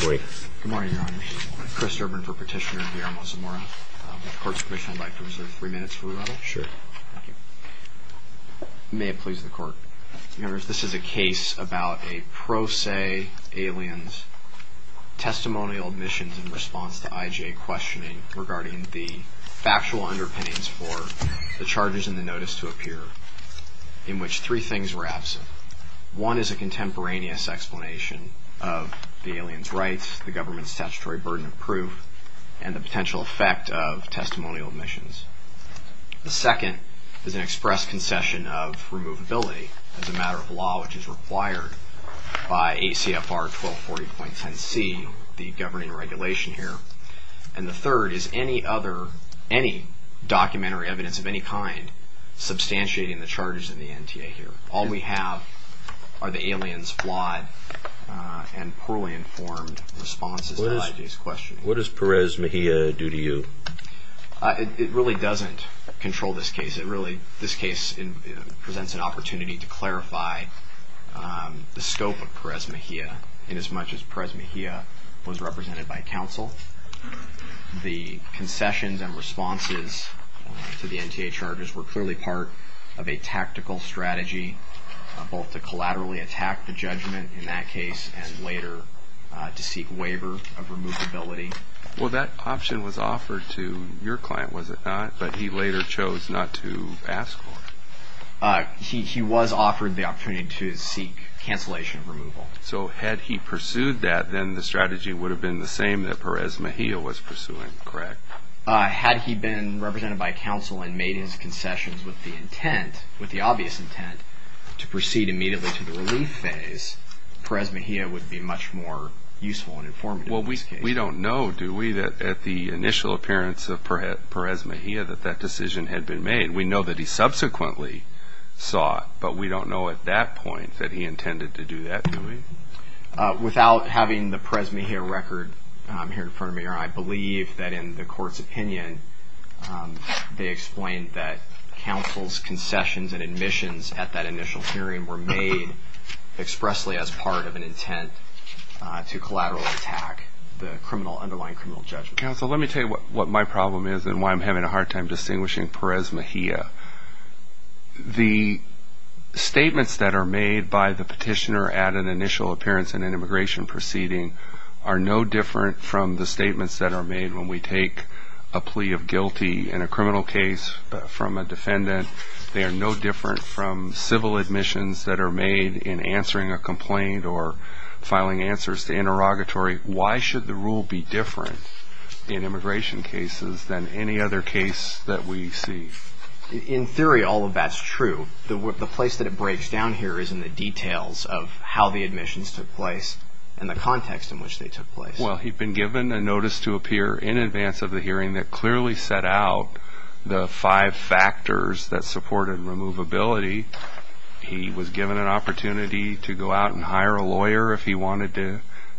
Good morning, Your Honor. I'm Chris Urban for Petitioner V. R. Mazzamora. With the Court's permission, I'd like to reserve three minutes for rebuttal. Sure. Thank you. May it please the Court. Members, this is a case about a pro se alien's testimonial admissions in response to I.J. questioning regarding the factual underpinnings for the charges in the notice to appear in which three things were absent. One is a contemporaneous explanation of the alien's rights, the government's statutory burden of proof, and the potential effect of testimonial admissions. The second is an express concession of removability as a matter of law, which is required by ACFR 1240.10c, the governing regulation here. And the third is any other, any documentary evidence of any kind, substantiating the charges in the NTA here. All we have are the alien's flawed and poorly informed responses to I.J.'s questioning. What does Perez Mejia do to you? It really doesn't control this case. It really, this case presents an opportunity to clarify the scope of Perez Mejia inasmuch as Perez Mejia was represented by counsel. The concessions and responses to the NTA charges were clearly part of a tactical strategy, both to collaterally attack the judgment in that case and later to seek waiver of removability. Well, that option was offered to your client, was it not? But he later chose not to ask for it. He was offered the opportunity to seek cancellation of removal. So had he pursued that, then the strategy would have been the same that Perez Mejia was pursuing, correct? Had he been represented by counsel and made his concessions with the intent, with the obvious intent, to proceed immediately to the relief phase, Perez Mejia would be much more useful and informative in this case. Well, we don't know, do we, that at the initial appearance of Perez Mejia that that decision had been made. We know that he subsequently saw it, but we don't know at that point that he intended to do that, do we? Without having the Perez Mejia record here in front of me, I believe that in the court's opinion, they explained that counsel's concessions and admissions at that initial hearing were made expressly as part of an intent to collaterally attack the underlying criminal judgment. Counsel, let me tell you what my problem is and why I'm having a hard time distinguishing Perez Mejia. The statements that are made by the petitioner at an initial appearance in an immigration proceeding are no different from the statements that are made when we take a plea of guilty in a criminal case from a defendant. They are no different from civil admissions that are made in answering a complaint or filing answers to interrogatory. Why should the rule be different in immigration cases than any other case that we see? In theory, all of that's true. The place that it breaks down here is in the details of how the admissions took place and the context in which they took place. Well, he'd been given a notice to appear in advance of the hearing that clearly set out the five factors that supported removability. He was given an opportunity to go out and hire a lawyer if he wanted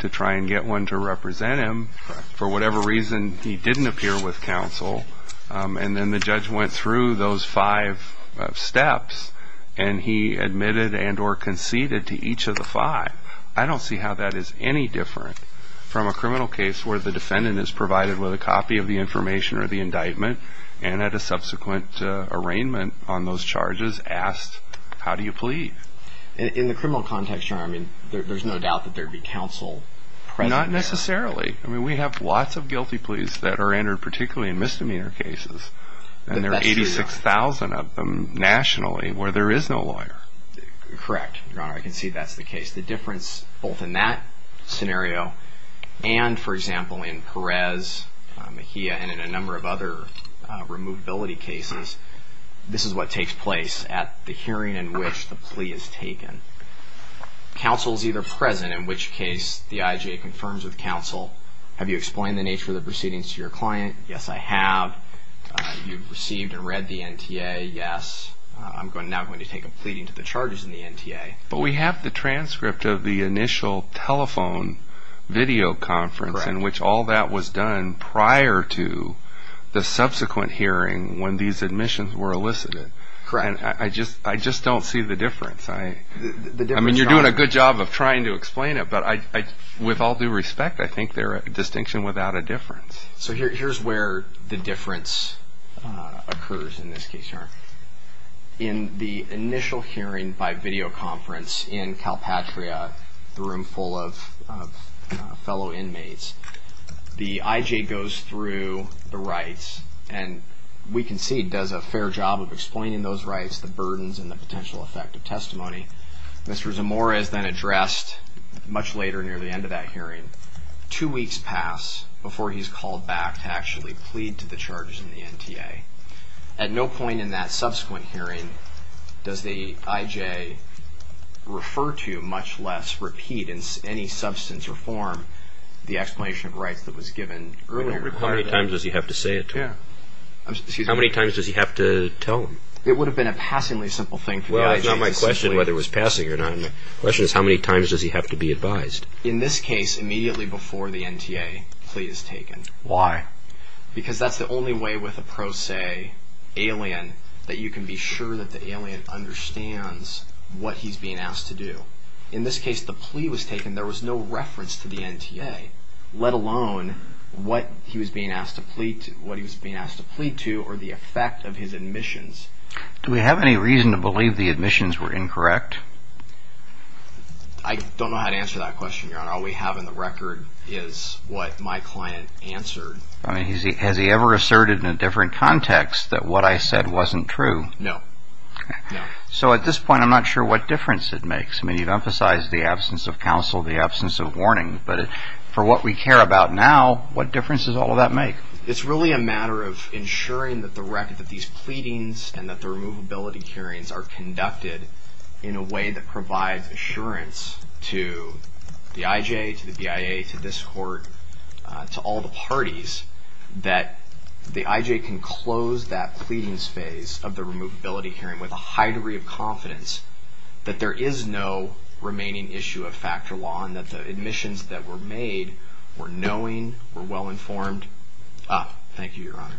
to try and get one to represent him. For whatever reason, he didn't appear with counsel. And then the judge went through those five steps, and he admitted and or conceded to each of the five. I don't see how that is any different from a criminal case where the defendant is provided with a copy of the information or the indictment and at a subsequent arraignment on those charges asked, how do you plead? In the criminal context, Your Honor, I mean, there's no doubt that there'd be counsel present. Not necessarily. I mean, we have lots of guilty pleas that are entered particularly in misdemeanor cases, and there are 86,000 of them nationally where there is no lawyer. Correct, Your Honor. I can see that's the case. The difference both in that scenario and, for example, in Perez, Mejia, and in a number of other removability cases, this is what takes place at the hearing in which the plea is taken. Counsel is either present, in which case the IJA confirms with counsel, have you explained the nature of the proceedings to your client? Yes, I have. You've received and read the NTA. Yes, I'm now going to take a pleading to the charges in the NTA. But we have the transcript of the initial telephone video conference in which all that was done prior to the subsequent hearing when these admissions were elicited. Correct. And I just don't see the difference. I mean, you're doing a good job of trying to explain it, but with all due respect, I think they're a distinction without a difference. In the initial hearing by video conference in Calpatria, the room full of fellow inmates, the IJA goes through the rights, and we can see does a fair job of explaining those rights, the burdens, and the potential effect of testimony. Mr. Zamora is then addressed much later, near the end of that hearing. Two weeks pass before he's called back to actually plead to the charges in the NTA. At no point in that subsequent hearing does the IJA refer to, much less repeat in any substance or form, the explanation of rights that was given earlier. How many times does he have to say it? How many times does he have to tell them? It would have been a passingly simple thing for the IJA. Well, that's not my question whether it was passing or not. My question is how many times does he have to be advised? In this case, immediately before the NTA plea is taken. Why? Because that's the only way with a pro se alien that you can be sure that the alien understands what he's being asked to do. In this case, the plea was taken. There was no reference to the NTA, let alone what he was being asked to plead to or the effect of his admissions. Do we have any reason to believe the admissions were incorrect? I don't know how to answer that question, Your Honor. All we have in the record is what my client answered. Has he ever asserted in a different context that what I said wasn't true? No. So at this point, I'm not sure what difference it makes. I mean, you've emphasized the absence of counsel, the absence of warning, but for what we care about now, what difference does all of that make? It's really a matter of ensuring that these pleadings and that the removability hearings are conducted in a way that provides assurance to the IJ, to the BIA, to this court, to all the parties that the IJ can close that pleadings phase of the removability hearing with a high degree of confidence that there is no remaining issue of factor law and that the admissions that were made were knowing, were well informed. Thank you, Your Honor.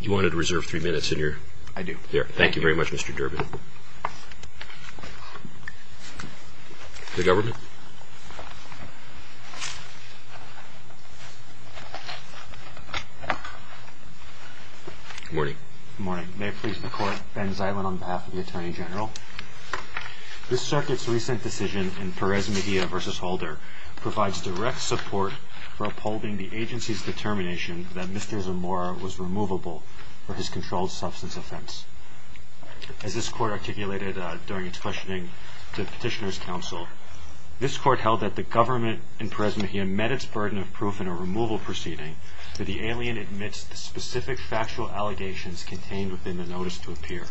You wanted to reserve three minutes in your? I do. Thank you very much, Mr. Durbin. The government. Good morning. Good morning. May it please the Court, Ben Ziland on behalf of the Attorney General. This circuit's recent decision in Perez-Media v. Holder provides direct support for upholding the agency's determination that Mr. Zamora was removable for his controlled substance offense. As this Court articulated during its questioning to Petitioner's Counsel, this Court held that the government in Perez-Media met its burden of proof in a removal proceeding that the alien admits the specific factual allegations contained within the notice to appear.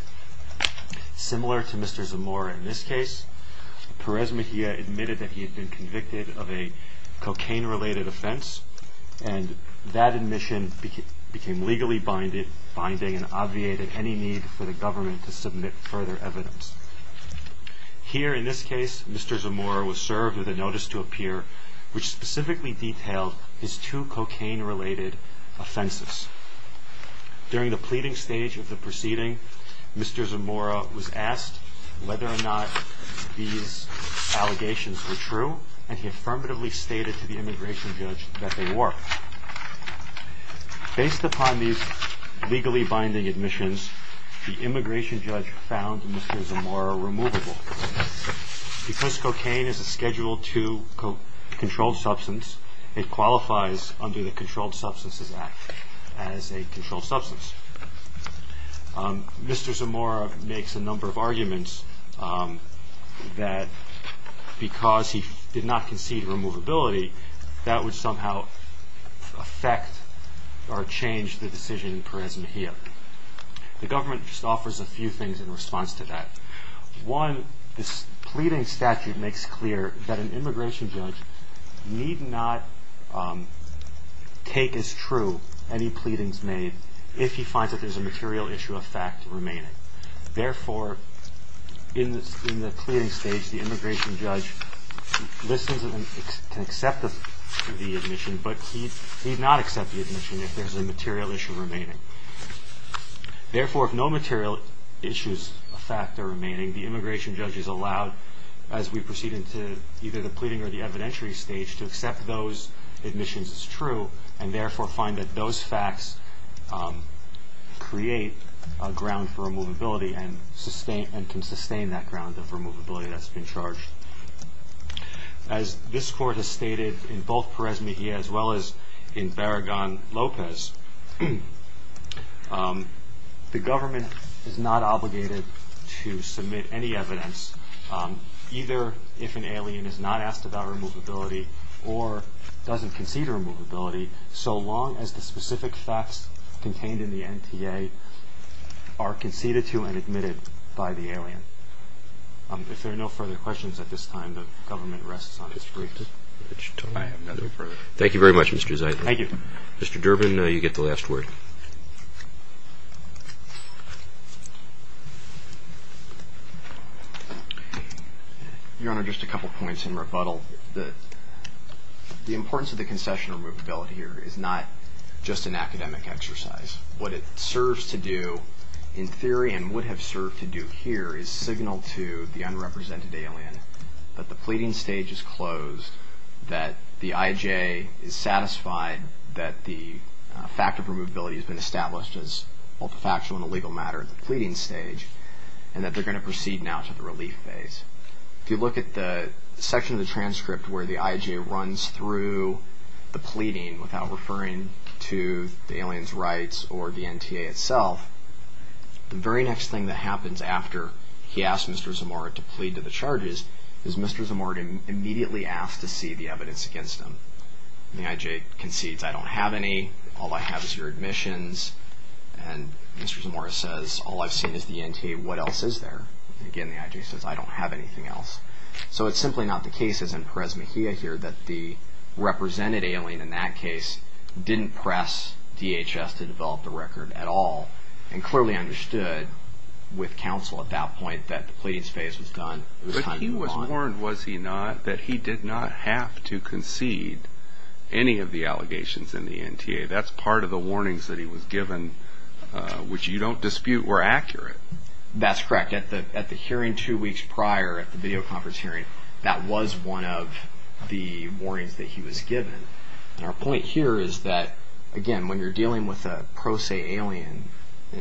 Similar to Mr. Zamora in this case, Perez-Media admitted that he had been convicted of a cocaine-related offense and that admission became legally binding and obviated any need for the government to submit further evidence. Here in this case, Mr. Zamora was served with a notice to appear which specifically detailed his two cocaine-related offenses. During the pleading stage of the proceeding, Mr. Zamora was asked whether or not these allegations were true and he affirmatively stated to the immigration judge that they were. Based upon these legally binding admissions, the immigration judge found Mr. Zamora removable. Because cocaine is a Schedule II controlled substance, it qualifies under the Controlled Substances Act as a controlled substance. Mr. Zamora makes a number of arguments that because he did not concede removability, that would somehow affect or change the decision in Perez-Media. The government just offers a few things in response to that. One, this pleading statute makes clear that an immigration judge need not take as true any pleadings made if he finds that there's a material issue of fact remaining. Therefore, in the pleading stage, the immigration judge listens and can accept the admission, but he'd not accept the admission if there's a material issue remaining. Therefore, if no material issues of fact are remaining, the immigration judge is allowed, as we proceed into either the pleading or the evidentiary stage, to accept those admissions as true and therefore find that those facts create a ground for removability and can sustain that ground of removability that's been charged. As this Court has stated in both Perez-Media as well as in Barragan-Lopez, the government is not obligated to submit any evidence, either if an alien is not asked about removability or doesn't concede removability, so long as the specific facts contained in the NTA are conceded to and admitted by the alien. If there are no further questions at this time, the government rests on its briefs. I have nothing further. Thank you very much, Mr. Zeitler. Thank you. Mr. Durbin, you get the last word. Your Honor, just a couple points in rebuttal. The importance of the concession of removability here is not just an academic exercise. What it serves to do in theory and would have served to do here is signal to the unrepresented alien that the pleading stage is closed, that the IJ is satisfied that the fact of removability has been established as multifactional and a legal matter at the pleading stage, and that they're going to proceed now to the relief phase. If you look at the section of the transcript where the IJ runs through the pleading without referring to the alien's rights or the NTA itself, the very next thing that happens after he asks Mr. Zamora to plead to the charges is Mr. Zamora immediately asked to see the evidence against him. The IJ concedes, I don't have any. All I have is your admissions. And Mr. Zamora says, all I've seen is the NTA. What else is there? Again, the IJ says, I don't have anything else. So it's simply not the case, as in Perez-Mejia here, that the represented alien in that case didn't press DHS to develop the record at all and clearly understood with counsel at that point that the pleading stage was done. But he was warned, was he not, that he did not have to concede any of the allegations in the NTA. That's part of the warnings that he was given, which you don't dispute were accurate. That's correct. At the hearing two weeks prior at the video conference hearing, that was one of the warnings that he was given. And our point here is that, again, when you're dealing with a pro se alien,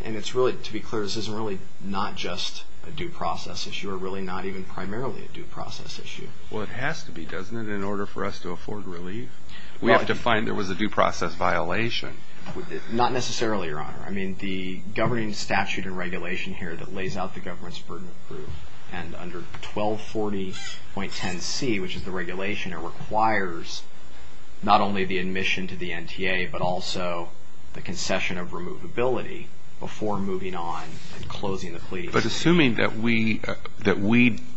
and it's really, to be clear, this isn't really not just a due process issue or really not even primarily a due process issue. Well, it has to be, doesn't it, in order for us to afford relief? We have to find there was a due process violation. Not necessarily, Your Honor. I mean, the governing statute and regulation here that lays out the government's burden of proof and under 1240.10c, which is the regulation, it requires not only the admission to the NTA but also the concession of removability before moving on and closing the plea. But assuming that we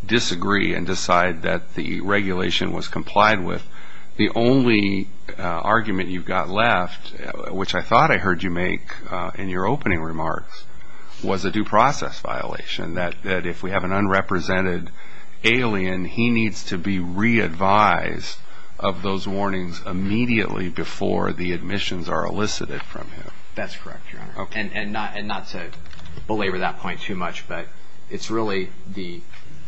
disagree and decide that the regulation was complied with, the only argument you've got left, which I thought I heard you make in your opening remarks, was a due process violation. That if we have an unrepresented alien, he needs to be re-advised of those warnings immediately before the admissions are elicited from him. That's correct, Your Honor. And not to belabor that point too much, but it's really the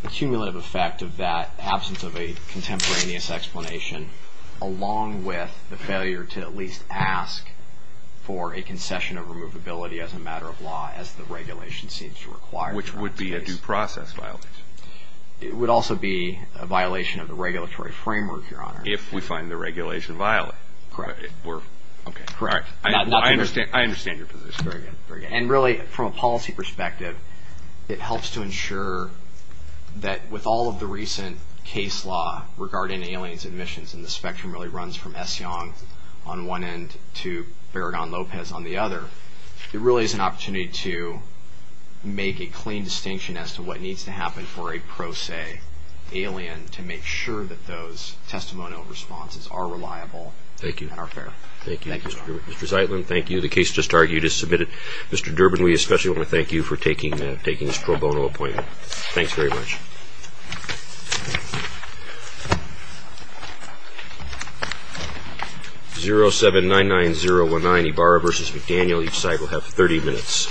cumulative effect of that absence of a contemporaneous explanation along with the failure to at least ask for a concession of removability as a matter of law, as the regulation seems to require. Which would be a due process violation. It would also be a violation of the regulatory framework, Your Honor. If we find the regulation violated. Correct. Okay, correct. I understand your position. Very good, very good. And really, from a policy perspective, it helps to ensure that with all of the recent case law regarding aliens admissions, and the spectrum really runs from S. Young on one end to Farragon Lopez on the other, it really is an opportunity to make a clean distinction as to what needs to happen for a pro se alien to make sure that those testimonial responses are reliable and are fair. Thank you. Thank you, Mr. Zaitlin. Thank you. The case just argued is submitted. Mr. Durbin, we especially want to thank you for taking this pro bono appointment. Thanks very much. 07-99019 Ibarra v. McDaniel. Each side will have 30 minutes.